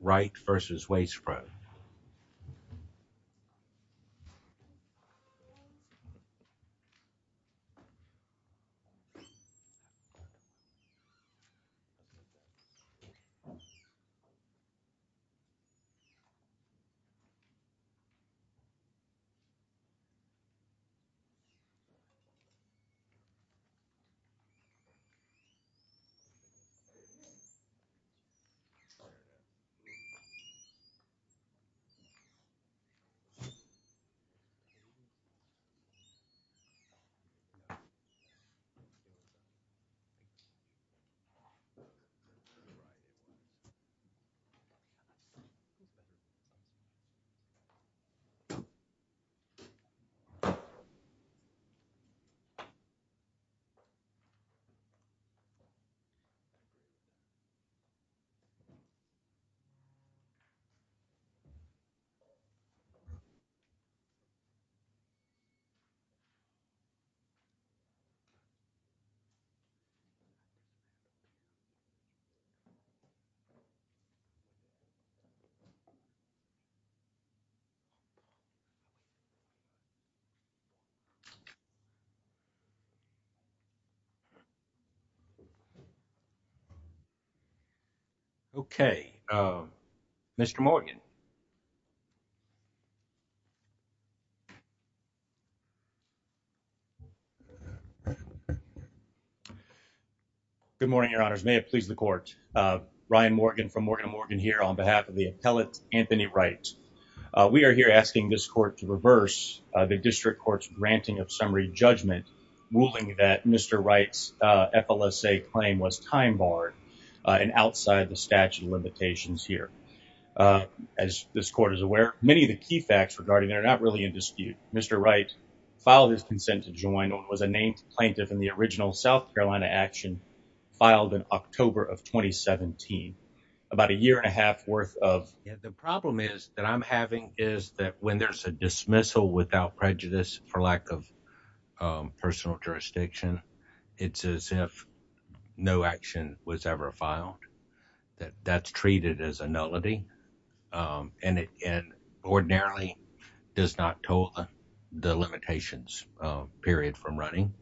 Wright v. Waste Pro. Okay. Mr. Morgan. Good morning, your honors. May it please the court. Ryan Morgan from Morgan & Morgan here on behalf of the appellate Anthony Wright. We are here asking this court to reverse the district court's granting of summary judgment, ruling that Mr. Wright's FLSA claim was time barred and outside the statute of limitations here. As this court is aware, many of the key facts regarding it are not really in dispute. Mr. Wright filed his consent to join what was a named plaintiff in the original South Carolina action filed in October of 2017, about a year and a half worth of... The problem is that I'm having is that when there's a dismissal without prejudice, for lack of personal jurisdiction, it's as if no action was ever filed. That's treated as a nullity and ordinarily does not toll the limitations period from running.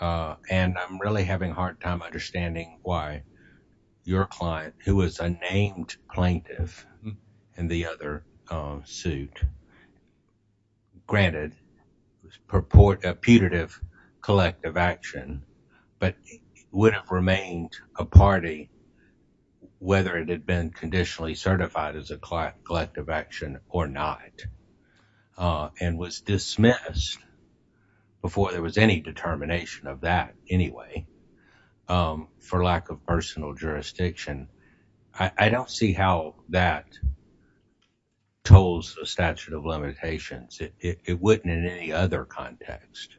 And I'm really having a hard time understanding why your client, who was a named plaintiff in the other suit, granted a putative collective action, but would have remained a party whether it had been conditionally certified as a collective action or not, and was dismissed before there was any determination of that anyway, for lack of personal jurisdiction. I don't see how that tolls the statute of limitations. It wouldn't in any other context.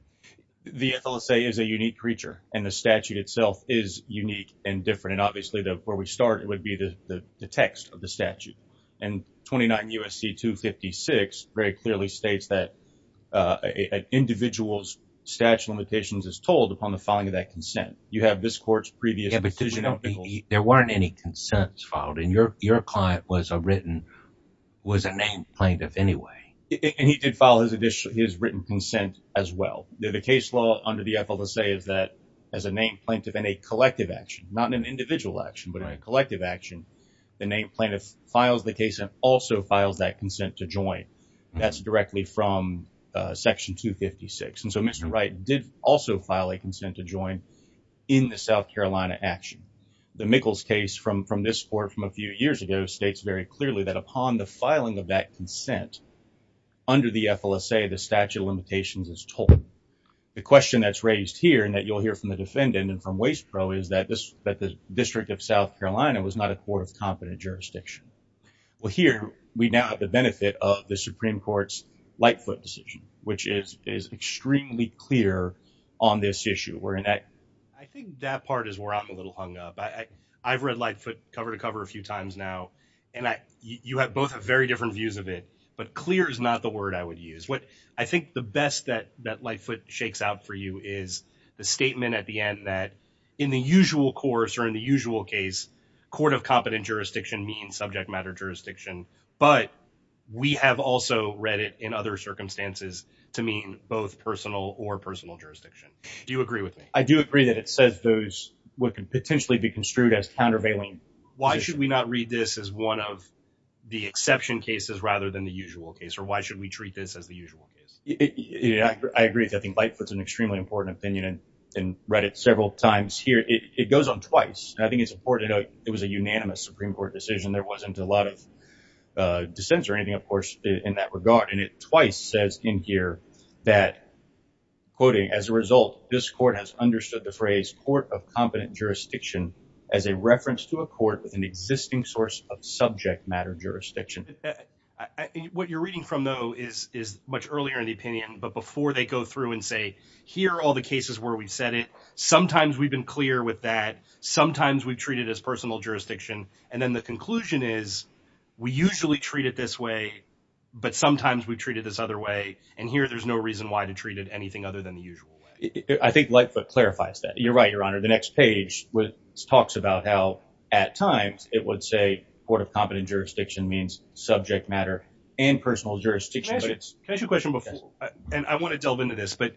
The FLSA is a unique creature, and the statute itself is unique and different. And obviously, where we start, it would be the text of the statute. And 29 U.S.C. 256 very clearly states that an individual's statute of limitations is tolled upon the filing of that consent. You have this court's previous decision. Yeah, but there weren't any consents filed, and your client was a named plaintiff anyway. And he did file his written consent as well. The case law under the FLSA is that, as a named plaintiff in a collective action, not an individual action, but a collective action, the named plaintiff files the case and also files that consent to join. That's directly from Section 256. And so Mr. Wright did also file a consent to join in the South Carolina action. The Mickles case from this court from a few years ago states very clearly that upon the filing of that consent under the FLSA, the statute of limitations is tolled. The question that's raised here, and that you'll hear from the defendant and from WastePro, is that the District of South Carolina was not a court of competent jurisdiction. Well, here we now have the benefit of the Supreme Court's Lightfoot decision, which is extremely clear on this issue. I think that part is where I'm a little hung up. I've read Lightfoot cover to cover a few times now, and you have both very different views of it, but clear is not the word I would use. What I think the best that Lightfoot shakes out for you is the statement at the end that in the usual course or in the usual case, court of competent jurisdiction means subject matter jurisdiction, but we have also read it in other circumstances to mean both personal or personal jurisdiction. Do you agree with me? I do agree that it says those what could potentially be construed as countervailing. Why should we not read this as one of the exception cases rather than the usual case, or why should we treat this as the usual case? I agree. I think Lightfoot's an extremely important opinion and read it several times here. It goes on twice, and I think it's important to note it was a unanimous Supreme Court decision. There wasn't a lot of dissents or anything, of course, in that regard, and it twice says in here that, quoting, as a result, this court has understood the phrase court of competent jurisdiction as a reference to a court with an existing source of subject matter jurisdiction. I think what you're reading from, though, is much earlier in the opinion, but before they go through and say, here are all the cases where we've said it, sometimes we've been clear with that, sometimes we've treated as personal jurisdiction, and then the conclusion is we usually treat it this way, but sometimes we treat it this other way, and here there's no reason why to treat it anything other than the usual way. I think Lightfoot clarifies that. You're right, Your Honor. The next page talks about how at times it would say court of competent jurisdiction means subject matter and personal jurisdiction. Can I ask you a question before, and I want to delve into this, but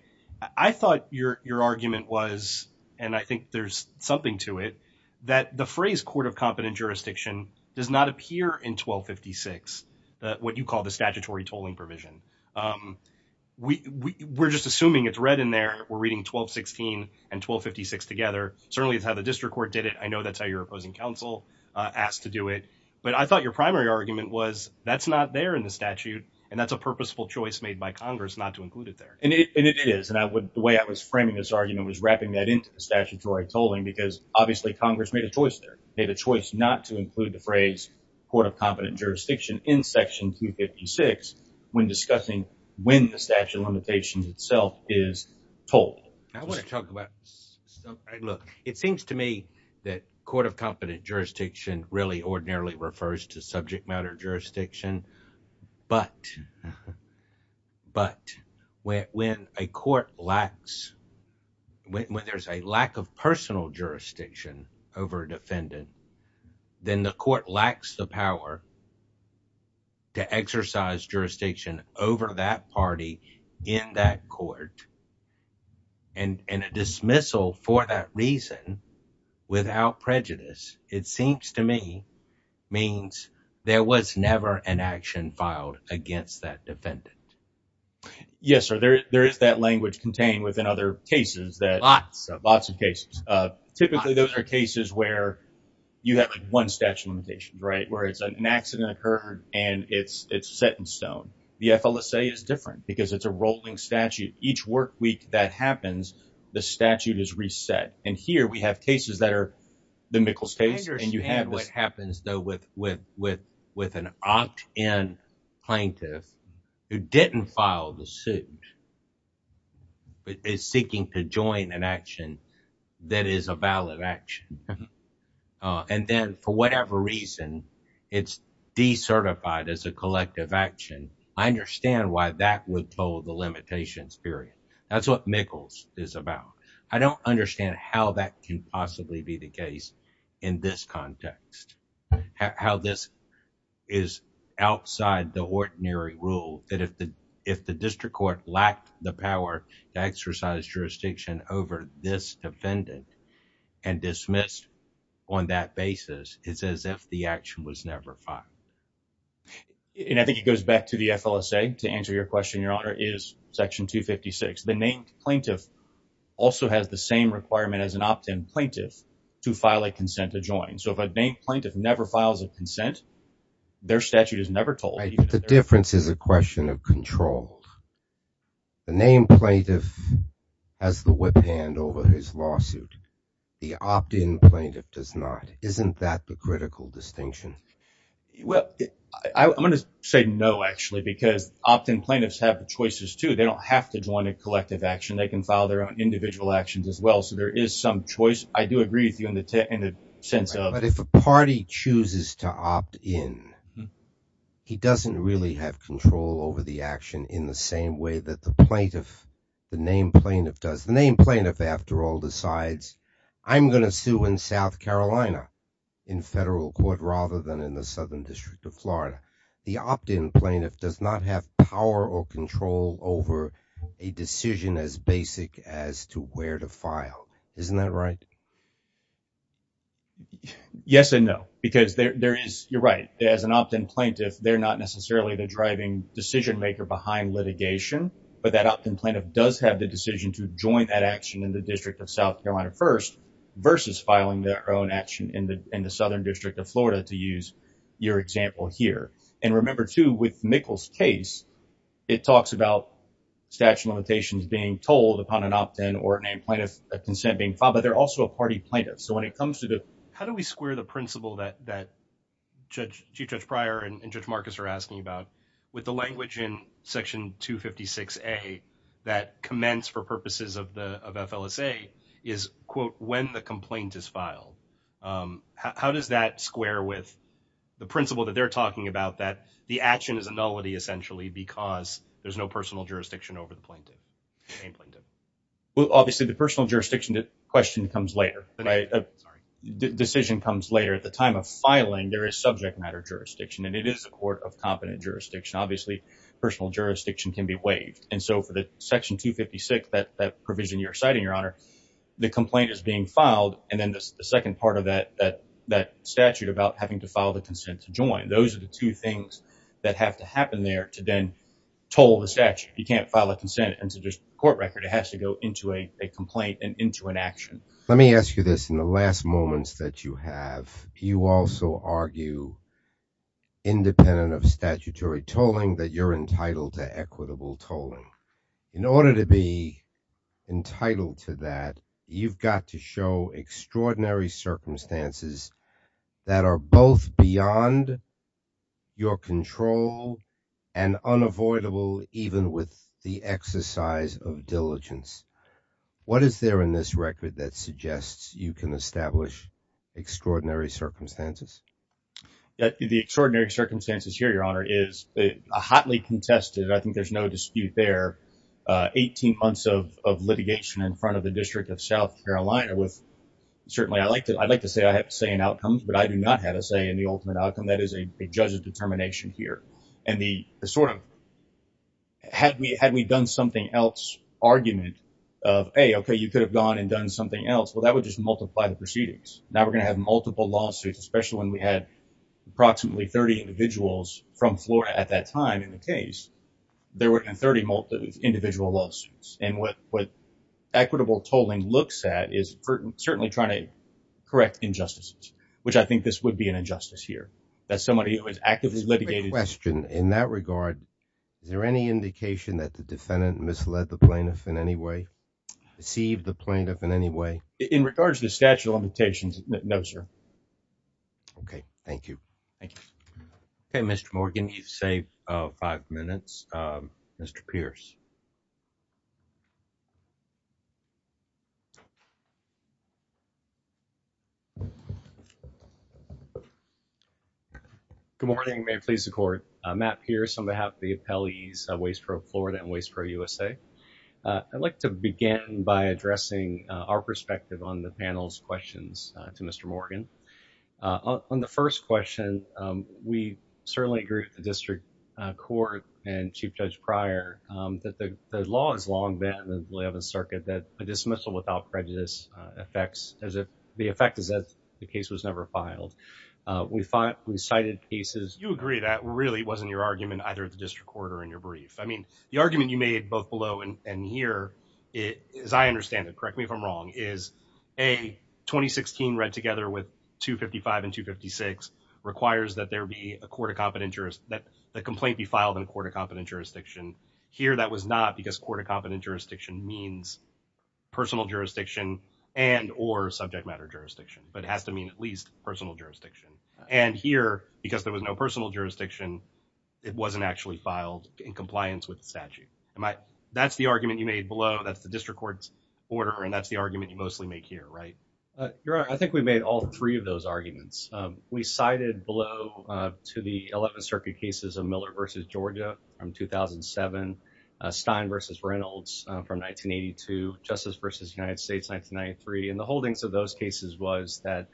I thought your argument was, and I think there's something to it, that the phrase court of competent jurisdiction does not appear in 1256, what you call the statutory tolling provision. We're just assuming it's read in there. We're reading 1216 and 1256 together. Certainly, it's how the district court did it. I know that's how your opposing counsel asked to do it, but I thought your primary argument was that's not there in the statute, and that's a purposeful choice made by Congress not to include it there. And it is, and the way I was framing this argument was wrapping that into the statutory tolling because obviously Congress made a choice there. They had a choice not to include the phrase court of competent jurisdiction in section 256 when discussing when the statute of limitations itself is told. I want to talk about something. Look, it seems to me that court of competent jurisdiction really ordinarily refers to subject matter jurisdiction, but when a court lacks, when there's a lack of personal jurisdiction over a defendant, then the court lacks the power to exercise jurisdiction over that party in that court. And a dismissal for that reason without prejudice, it seems to me, means there was never an action filed against that defendant. Yes, sir. There is that language contained within other cases. Lots of cases. Typically, those are cases where you have one statute of limitations, right, where it's an accident occurred and it's set in stone. The FLSA is different because it's a rolling statute. Each work week that happens, the statute is reset. And here we have cases that are the Mikkels case. I understand what happens though with an opt-in plaintiff who didn't file the suit, but is seeking to join an action that is a valid action. And then for whatever reason, it's decertified as a collective action. I understand why that would pull the limitations period. That's what Mikkels is about. I don't understand how that can possibly be the case in this context, how this is outside the ordinary rule that if the district court lacked the power to exercise jurisdiction over this defendant and dismissed on that basis, it's as if the action was never filed. And I think it goes back to the FLSA to your question, your honor, is section 256. The named plaintiff also has the same requirement as an opt-in plaintiff to file a consent to join. So if a named plaintiff never files a consent, their statute is never told. The difference is a question of control. The named plaintiff has the whip hand over his lawsuit. The opt-in plaintiff does not. Isn't that the critical distinction? Well, I'm going to say no, actually, because opt-in plaintiffs have choices too. They don't have to join a collective action. They can file their own individual actions as well. So there is some choice. I do agree with you in the sense of... But if a party chooses to opt in, he doesn't really have control over the action in the same way that the plaintiff, the named plaintiff does. The named plaintiff, after all, decides, I'm going to sue in South Carolina in federal court rather than in the Southern District of Florida. The opt-in plaintiff does not have power or control over a decision as basic as to where to file. Isn't that right? Yes and no, because you're right. As an opt-in plaintiff, they're not necessarily the driving decision maker behind litigation, but that opt-in plaintiff does have the decision to in the Southern District of Florida, to use your example here. And remember too, with Mickel's case, it talks about statute of limitations being told upon an opt-in or a named plaintiff, a consent being filed, but they're also a party plaintiff. So when it comes to the... How do we square the principle that Chief Judge Pryor and Judge Marcus are asking about with the language in Section 256A that commends for purposes of FLSA is, quote, when the complaint is filed. How does that square with the principle that they're talking about that the action is a nullity essentially because there's no personal jurisdiction over the plaintiff, named plaintiff? Well, obviously the personal jurisdiction question comes later. Decision comes later. At the time of filing, there is subject matter jurisdiction and it is a court of competent jurisdiction. Obviously, personal jurisdiction can be waived. And so for the being filed and then the second part of that statute about having to file the consent to join, those are the two things that have to happen there to then toll the statute. You can't file a consent and so there's court record. It has to go into a complaint and into an action. Let me ask you this. In the last moments that you have, you also argue independent of statutory tolling that you're to show extraordinary circumstances that are both beyond your control and unavoidable even with the exercise of diligence. What is there in this record that suggests you can establish extraordinary circumstances? The extraordinary circumstances here, Your Honor, is hotly contested. I think there's no dispute there. Eighteen months of litigation in front of the line. Certainly, I'd like to say I have a say in outcomes, but I do not have a say in the ultimate outcome that is a judge's determination here. Had we done something else, argument of, hey, okay, you could have gone and done something else, well, that would just multiply the proceedings. Now we're going to have multiple lawsuits, especially when we had approximately 30 individuals from Florida at that time in the case. There were 30 individual lawsuits. And what equitable tolling looks at is certainly trying to correct injustices, which I think this would be an injustice here, that somebody who is actively litigated. Quick question. In that regard, is there any indication that the defendant misled the plaintiff in any way, deceived the plaintiff in any way? In regards to the statute of limitations, no, sir. Okay, thank you. Thank you. Okay, Mr. Morgan, you've saved five minutes. Mr. Pierce. Good morning. May it please the court. Matt Pierce on behalf of the appellees of Waste Pro Florida and Waste Pro USA. I'd like to begin by addressing our perspective on the panel's questions to Mr. Morgan. On the first question, we certainly agree with the district court and a dismissal without prejudice. The effect is that the case was never filed. We cited cases. You agree that really wasn't your argument either at the district court or in your brief. I mean, the argument you made both below and here, as I understand it, correct me if I'm wrong, is a 2016 read together with 255 and 256 requires that the complaint be filed in a court of means personal jurisdiction and or subject matter jurisdiction, but it has to mean at least personal jurisdiction. And here, because there was no personal jurisdiction, it wasn't actually filed in compliance with the statute. That's the argument you made below. That's the district court order. And that's the argument you mostly make here, right? I think we made all three of those arguments. We cited below to the 11th circuit cases of Miller versus Georgia from 2007, Stein versus Reynolds from 1982, Justice versus United States, 1993. And the holdings of those cases was that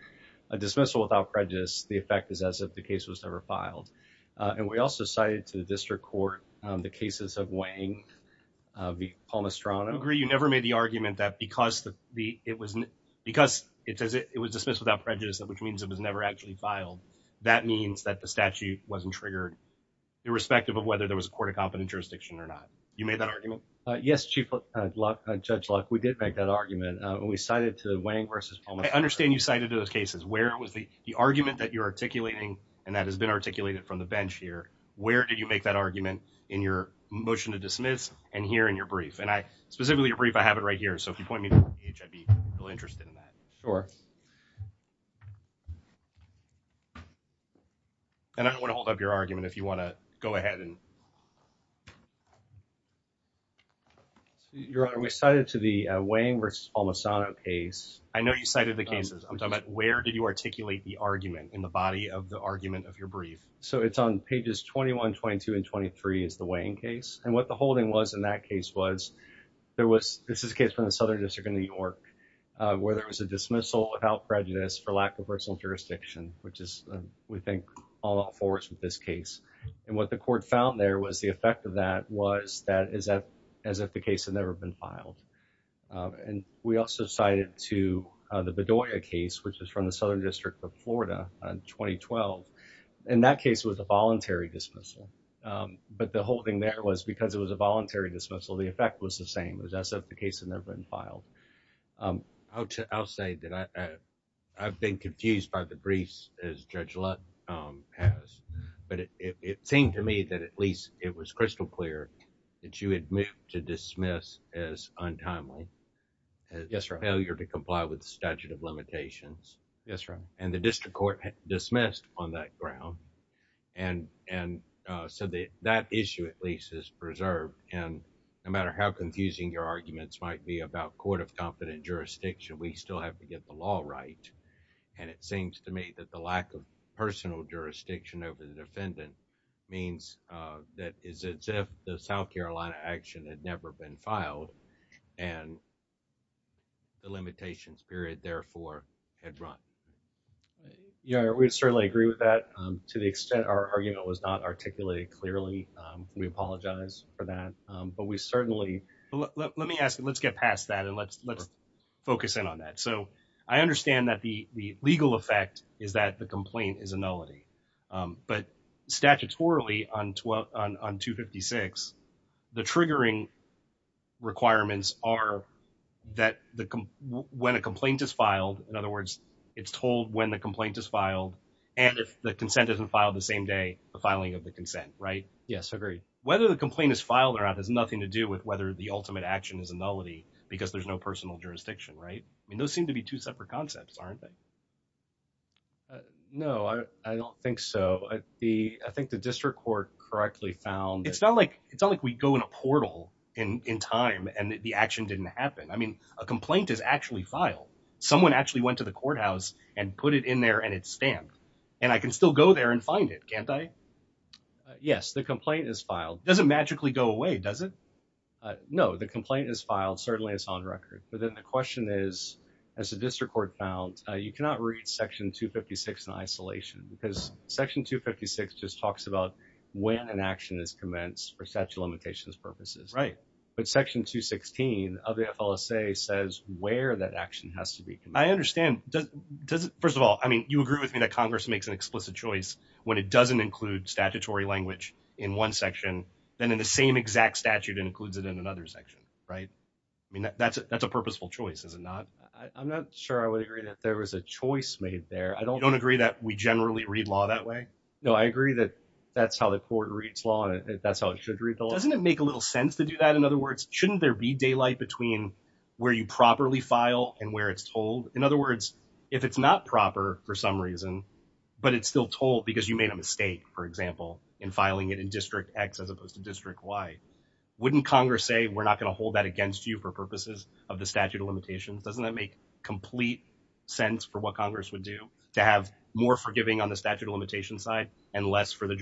a dismissal without prejudice, the effect is as if the case was never filed. And we also cited to the district court, the cases of Wang v. Palmestrano. I agree. You never made the argument that because it was dismissed without prejudice, which means it was never actually filed. That means that the statute wasn't triggered irrespective of whether there was a court of competent jurisdiction or not. You made that argument? Yes, Chief Judge Luck. We did make that argument when we cited to Wang versus Palmestrano. I understand you cited those cases. Where was the argument that you're articulating and that has been articulated from the bench here? Where did you make that argument in your motion to dismiss and here in your brief? And I specifically your brief, I have it right here. So if you point me the page, I'd be really interested in that. Sure. And I don't want to hold up your argument if you want to go ahead and... Your Honor, we cited to the Wang v. Palmestrano case. I know you cited the cases. I'm talking about where did you articulate the argument in the body of the argument of your brief? So it's on pages 21, 22, and 23 is the Wang case. And what the holding was in that case was there was, this is a case from the Southern District of New York, where there was a dismissal without prejudice for lack of personal jurisdiction, which is, we think, all forwards with this case. And what the court found there was the effect of that was that as if the case had never been filed. And we also cited to the Bedoya case, which is from the Southern District of Florida on 2012. And that case was a voluntary dismissal. But the holding there was because it was a same. It was as if the case had never been filed. I'll say that I've been confused by the briefs as Judge Lutt has. But it seemed to me that at least it was crystal clear that you had moved to dismiss as untimely. Yes, Your Honor. As a failure to comply with the statute of limitations. Yes, Your Honor. And the district court dismissed on that ground. And so that issue at least is confusing. Your arguments might be about court of competent jurisdiction. We still have to get the law right. And it seems to me that the lack of personal jurisdiction over the defendant means that is as if the South Carolina action had never been filed. And the limitations period, therefore, had run. Your Honor, we'd certainly agree with that. To the extent our argument was not articulated clearly, we apologize for that. But we certainly let me ask you, let's get past that and let's let's focus in on that. So I understand that the legal effect is that the complaint is a nullity. But statutorily on 12 on 256, the triggering requirements are that when a complaint is filed. In other words, it's told when the complaint is filed and if the consent isn't filed the same day, the filing of the consent, right? Yes, I agree. Whether the complaint is filed or not has nothing to do with whether the ultimate action is a nullity because there's no personal jurisdiction, right? I mean, those seem to be two separate concepts, aren't they? No, I don't think so. The I think the district court correctly found it's not like it's not like we go in a portal in time and the action didn't happen. I mean, a complaint is actually filed. Someone actually went to the courthouse and put it in there and it's stamped and I can still go there and find it, can't I? Yes, the complaint is filed. Doesn't magically go away, does it? No, the complaint is filed. Certainly, it's on record. But then the question is, as the district court found, you cannot read section 256 in isolation because section 256 just talks about when an action is commenced for statute of limitations purposes, right? But section 216 says where that action has to be. I understand. First of all, I mean, you agree with me that Congress makes an explicit choice when it doesn't include statutory language in one section, then in the same exact statute includes it in another section, right? I mean, that's a purposeful choice, is it not? I'm not sure I would agree that there was a choice made there. I don't agree that we generally read law that way. No, I agree that that's how the court reads law and that's how it should read the law. Doesn't it make a little sense to do that? In other words, shouldn't there be daylight between where you properly file and where it's told? In other words, if it's not proper for some reason, but it's still told because you made a mistake, for example, in filing it in District X as opposed to District Y, wouldn't Congress say, we're not going to hold that against you for purposes of the statute of limitations? Doesn't that make complete sense for what Congress would do to have more forgiving on the statute of limitation side and less for I'm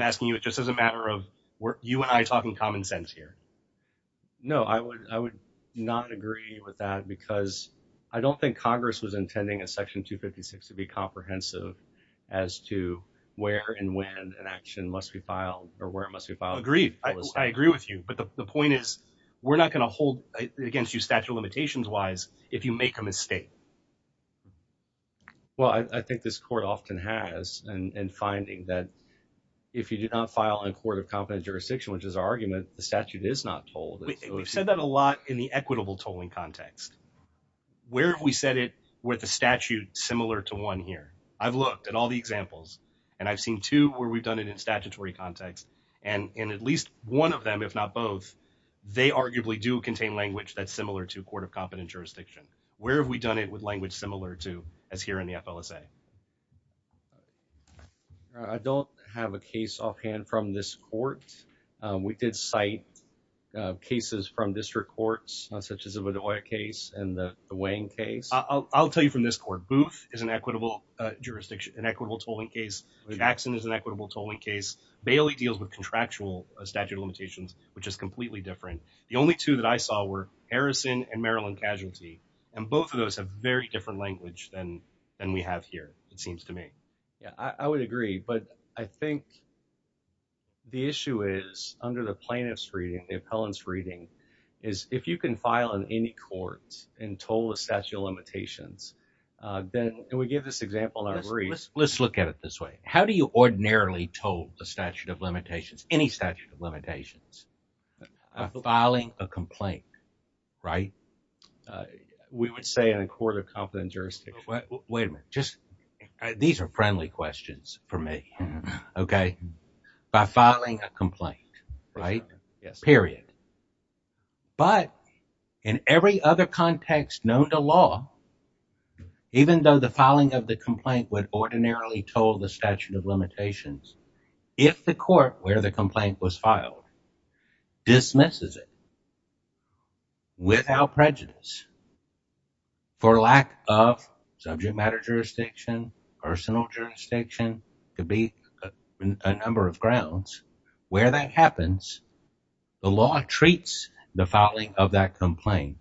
asking you just as a matter of you and I talking common sense here. No, I would not agree with that because I don't think Congress was intending a section 256 to be comprehensive as to where and when an action must be filed or where it must be filed. Agreed. I agree with you. But the point is, we're not going to hold against you statute of limitations wise if you make a mistake. Well, I think this court often has and finding that if you did not file in court of competent jurisdiction, which is our argument, the statute is not told. We've said that a lot in the equitable tolling context. Where have we said it with a statute similar to one here? I've looked at all the examples and I've seen two where we've done it in statutory context. And in at least one of them, if not both, they arguably do contain language that's similar to court of competent jurisdiction. Where have we done it with language similar to as here in the FLSA? I don't have a case offhand from this court. We did cite cases from district courts, such as a case and the Wayne case. I'll tell you from this court, Booth is an equitable jurisdiction, an equitable tolling case. Jackson is an equitable tolling case. Bailey deals with contractual statute of limitations, which is completely different. The only two that I saw were Harrison and Maryland casualty. And both of those have very different language than we have here, it seems to me. Yeah, I would agree. But I think the issue is under the plaintiff's reading, the appellant's reading is if you can file in any courts and toll the statute of limitations, then we give this example in our briefs. Let's look at it this way. How do you ordinarily toll the statute of limitations, any statute of limitations? Filing a complaint, right? We would say in a court of competent jurisdiction. Wait a minute. These are friendly questions for me. Okay. By filing a complaint, right? Yes. Period. But in every other context known to law, even though the filing of the complaint would ordinarily toll the statute of limitations, if the court where the complaint was filed dismisses it without prejudice, for lack of subject matter jurisdiction, personal jurisdiction, could be a number of grounds, where that happens, the law treats the filing of that complaint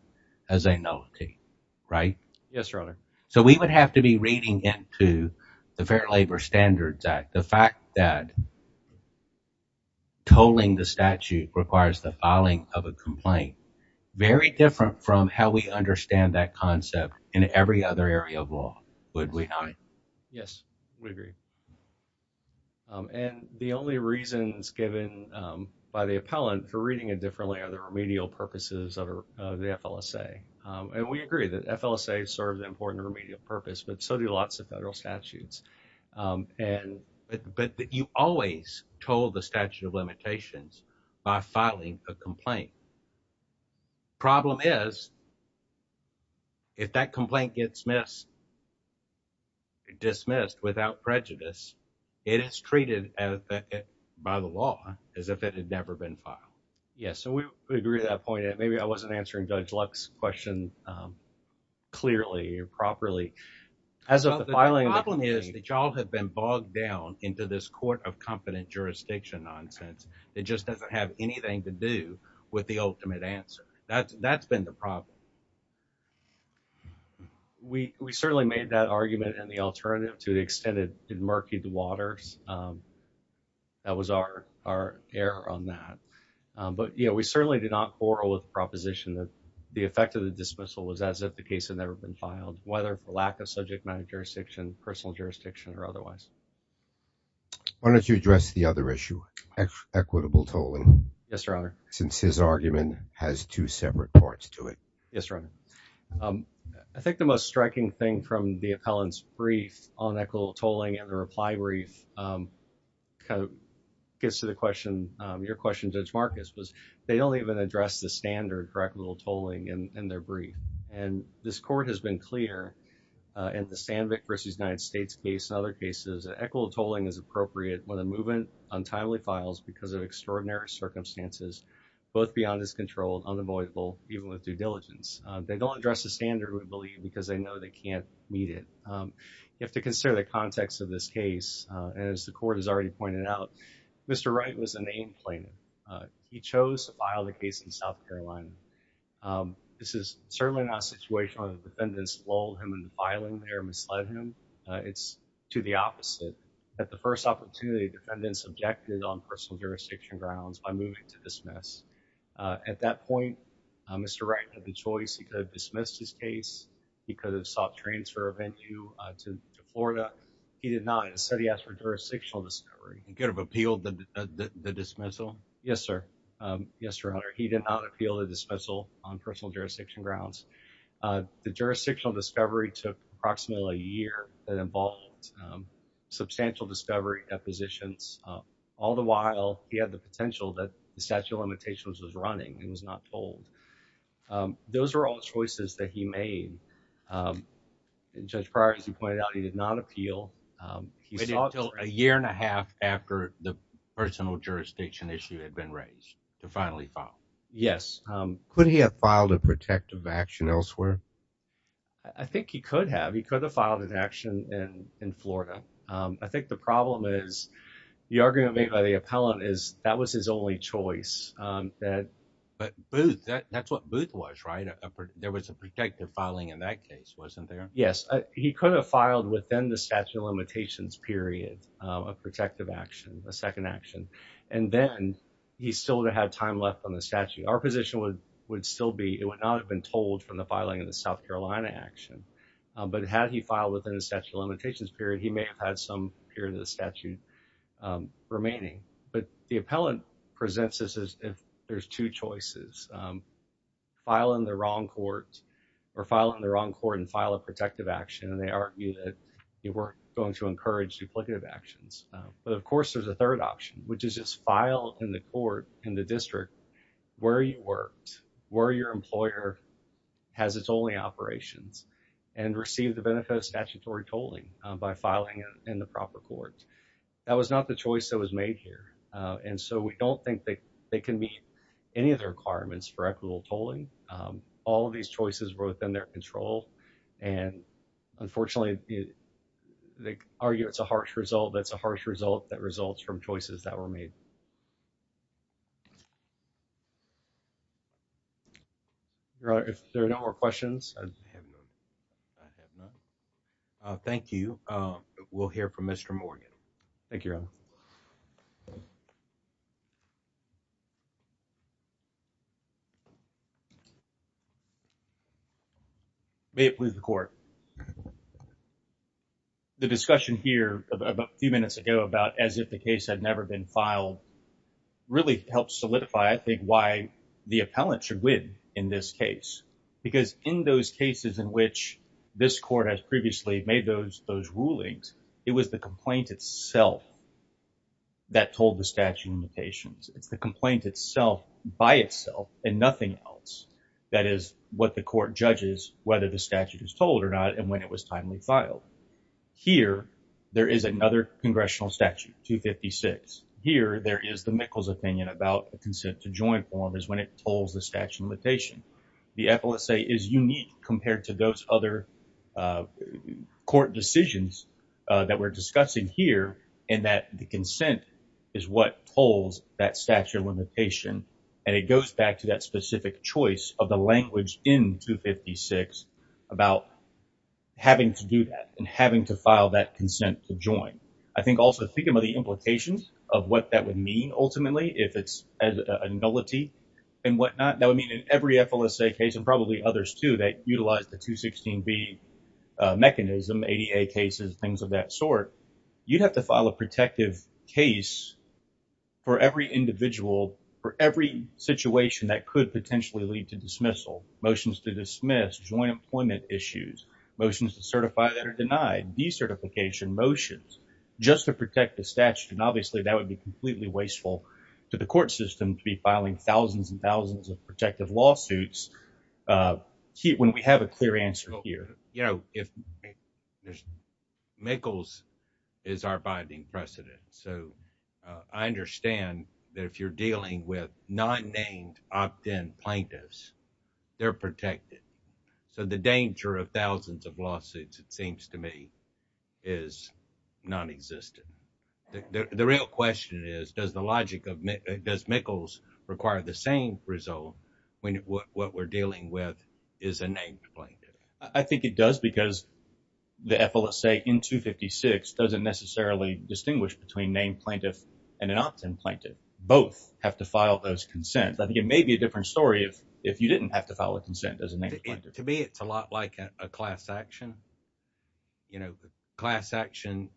as a nullity, right? Yes, labor standards act, the fact that tolling the statute requires the filing of a complaint, very different from how we understand that concept in every other area of law, would we not? Yes, we agree. And the only reasons given by the appellant for reading it differently are the remedial purposes of the FLSA. And we agree that FLSA serves an important remedial purpose, but so do lots of federal statutes. But you always told the statute of limitations by filing a complaint. Problem is, if that complaint gets dismissed without prejudice, it is treated by the law as if it had never been filed. Yes, so we agree to that point. Maybe I was wrong. The problem is that y'all have been bogged down into this court of competent jurisdiction nonsense. It just doesn't have anything to do with the ultimate answer. That's been the problem. We certainly made that argument and the alternative to the extended murky waters. That was our error on that. But, you know, we certainly did not proposition that the effect of the dismissal was as if the case had never been filed, whether the lack of subject matter jurisdiction, personal jurisdiction or otherwise. Why don't you address the other issue, equitable tolling? Yes, Your Honor. Since his argument has two separate parts to it. Yes, Your Honor. I think the most striking thing from the appellant's brief on equitable tolling and the reply brief kind of gets to the question. Your question, Judge Marcus, was they don't even address the standard for equitable tolling in their brief. And this court has been clear in the Sandvik v. United States case and other cases that equitable tolling is appropriate when a movement untimely files because of extraordinary circumstances, both beyond his control, unavoidable, even with due diligence. They don't address the standard, we believe, because they know they can't meet it. You have to consider the context of this case. And as the court has already pointed out, Mr. Wright was a name plaintiff. He chose to file the case in South Carolina. This is certainly not a situation where the defendants lulled him into filing there and misled him. It's to the opposite. At the first opportunity, defendants objected on personal jurisdiction grounds by moving to dismiss. At that point, Mr. Wright had the choice. He could have dismissed his case. He could have sought transfer of venue to Florida. He did not. Instead, he asked for jurisdictional discovery. He could have appealed the dismissal. Yes, sir. Yes, Your Honor. He did not appeal the dismissal on personal jurisdiction grounds. The jurisdictional discovery took approximately a year that involved substantial discovery depositions. All the while, he had the potential that the statute of limitations was running. He was not told. Those were all choices that he made. Judge Prior, as you pointed out, he did not appeal. He waited until a year and a half after the personal jurisdiction issue had been raised to finally file. Yes. Could he have filed a protective action elsewhere? I think he could have. He could have filed an action in Florida. I think the problem is, the argument made by the appellant is that was his only choice. But Booth, that's what Booth was, right? There was a protective filing in that case, wasn't there? Yes. He could have filed within the statute of limitations period a protective action, a second action, and then he still would have had time left on the statute. Our position would still be it would not have been told from the filing of the South Carolina action. But had he filed within the statute of limitations period, he may have had some period of the statute remaining. But the appellant presents this as if there's two choices, file in the wrong court or file in the wrong court and argue that you weren't going to encourage duplicative actions. But of course, there's a third option, which is just file in the court in the district where you worked, where your employer has its only operations and receive the benefit of statutory tolling by filing in the proper court. That was not the choice that was made here. And so we don't think that they can meet any of the requirements for equitable tolling. All of these choices were within their control. And unfortunately, they argue it's a harsh result. That's a harsh result that results from choices that were made. If there are no more questions. Thank you. We'll hear from Mr. Morgan. Thank you. May it please the court. The discussion here a few minutes ago about as if the case had never been filed really helps solidify, I think, why the appellant should win in this case, because in those cases in which this court has previously made those those rulings, it was the complaint itself that told the statute limitations. It's the complaint itself by itself and nothing else. That is what the court judges, whether the statute is told or not, and when it was timely filed. Here, there is another congressional statute 256. Here there is the Mikkels opinion about consent to joint form is when it holds the statute limitation. The appellate say is unique compared to those other court decisions that we're discussing here and that the consent is what holds that statute limitation. And it goes back to that specific choice of the language in 256 about having to do that and having to file that consent to join. I think also thinking about the implications of what that would mean, ultimately, if it's a nullity and whatnot, that would mean in every FLSA case and probably others, too, that utilize the 216B mechanism, ADA cases, things of that sort, you'd have to file a protective case for every individual, for every situation that could potentially lead to dismissal, motions to dismiss joint employment issues, motions to certify that are denied, decertification motions just to protect the statute. And obviously, that would be completely wasteful to the court system to be filing thousands and thousands of protective lawsuits when we have a clear answer here. You know, Mikkels is our binding precedent. So, I understand that if you're dealing with non-named, opt-in plaintiffs, they're protected. So, the danger of thousands of lawsuits, it seems to me, is nonexistent. The real question is, does Mikkels require the same result when what we're dealing with is a named plaintiff? I think it does because the FLSA in 256 doesn't necessarily distinguish between named plaintiff and an opt-in plaintiff. Both have to file those consents. I think it may be a different story if you didn't have to file a consent as a named class action. You know, class action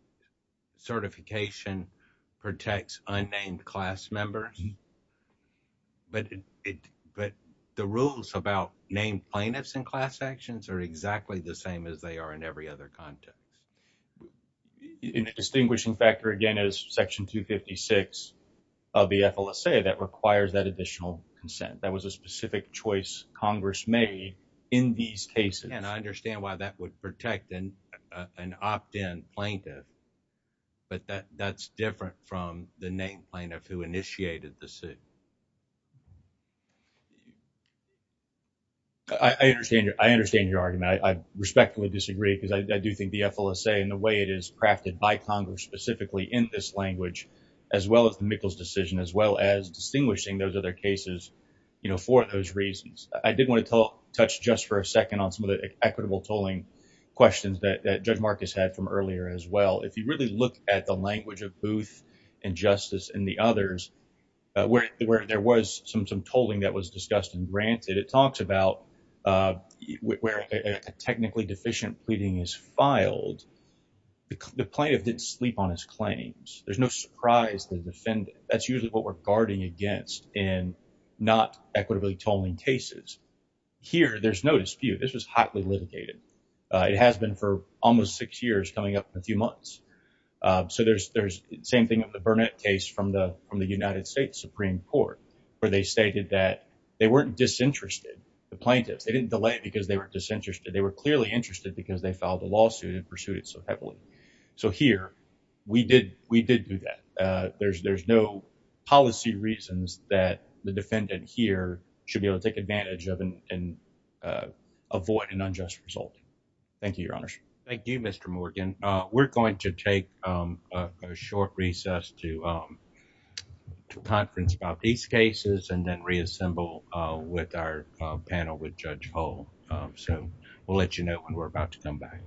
certification protects unnamed class members. But the rules about named plaintiffs and class actions are exactly the same as they are in every other context. And a distinguishing factor, again, is section 256 of the FLSA that requires that additional consent. That was a specific choice Congress made in these cases. And I understand why that would protect an opt-in plaintiff, but that's different from the named plaintiff who initiated the suit. I understand your argument. I respectfully disagree because I do think the FLSA and the way it is crafted by Congress specifically in this language, as well as the Mikkels decision, as well as distinguishing those other cases, you know, for those reasons. I did want to touch just for a second on some of the equitable tolling questions that Judge Marcus had from earlier as well. If you really look at the language of Booth and Justice and the others, where there was some tolling that was discussed and granted, it talks about where a technically deficient pleading is filed, the plaintiff didn't sleep on his claims. There's no surprise to the defendant. That's usually what we're guarding against in not here. There's no dispute. This was hotly litigated. It has been for almost six years coming up in a few months. So there's the same thing with the Burnett case from the United States Supreme Court, where they stated that they weren't disinterested, the plaintiffs. They didn't delay it because they were disinterested. They were clearly interested because they filed a lawsuit and pursued it so heavily. So here, we did do that. There's no policy reasons that the defendant here should be able to take advantage of and avoid an unjust result. Thank you, Your Honor. Thank you, Mr. Morgan. We're going to take a short recess to conference about these cases and then reassemble with our panel with Judge Hull. So we'll let you know when we're about to come back.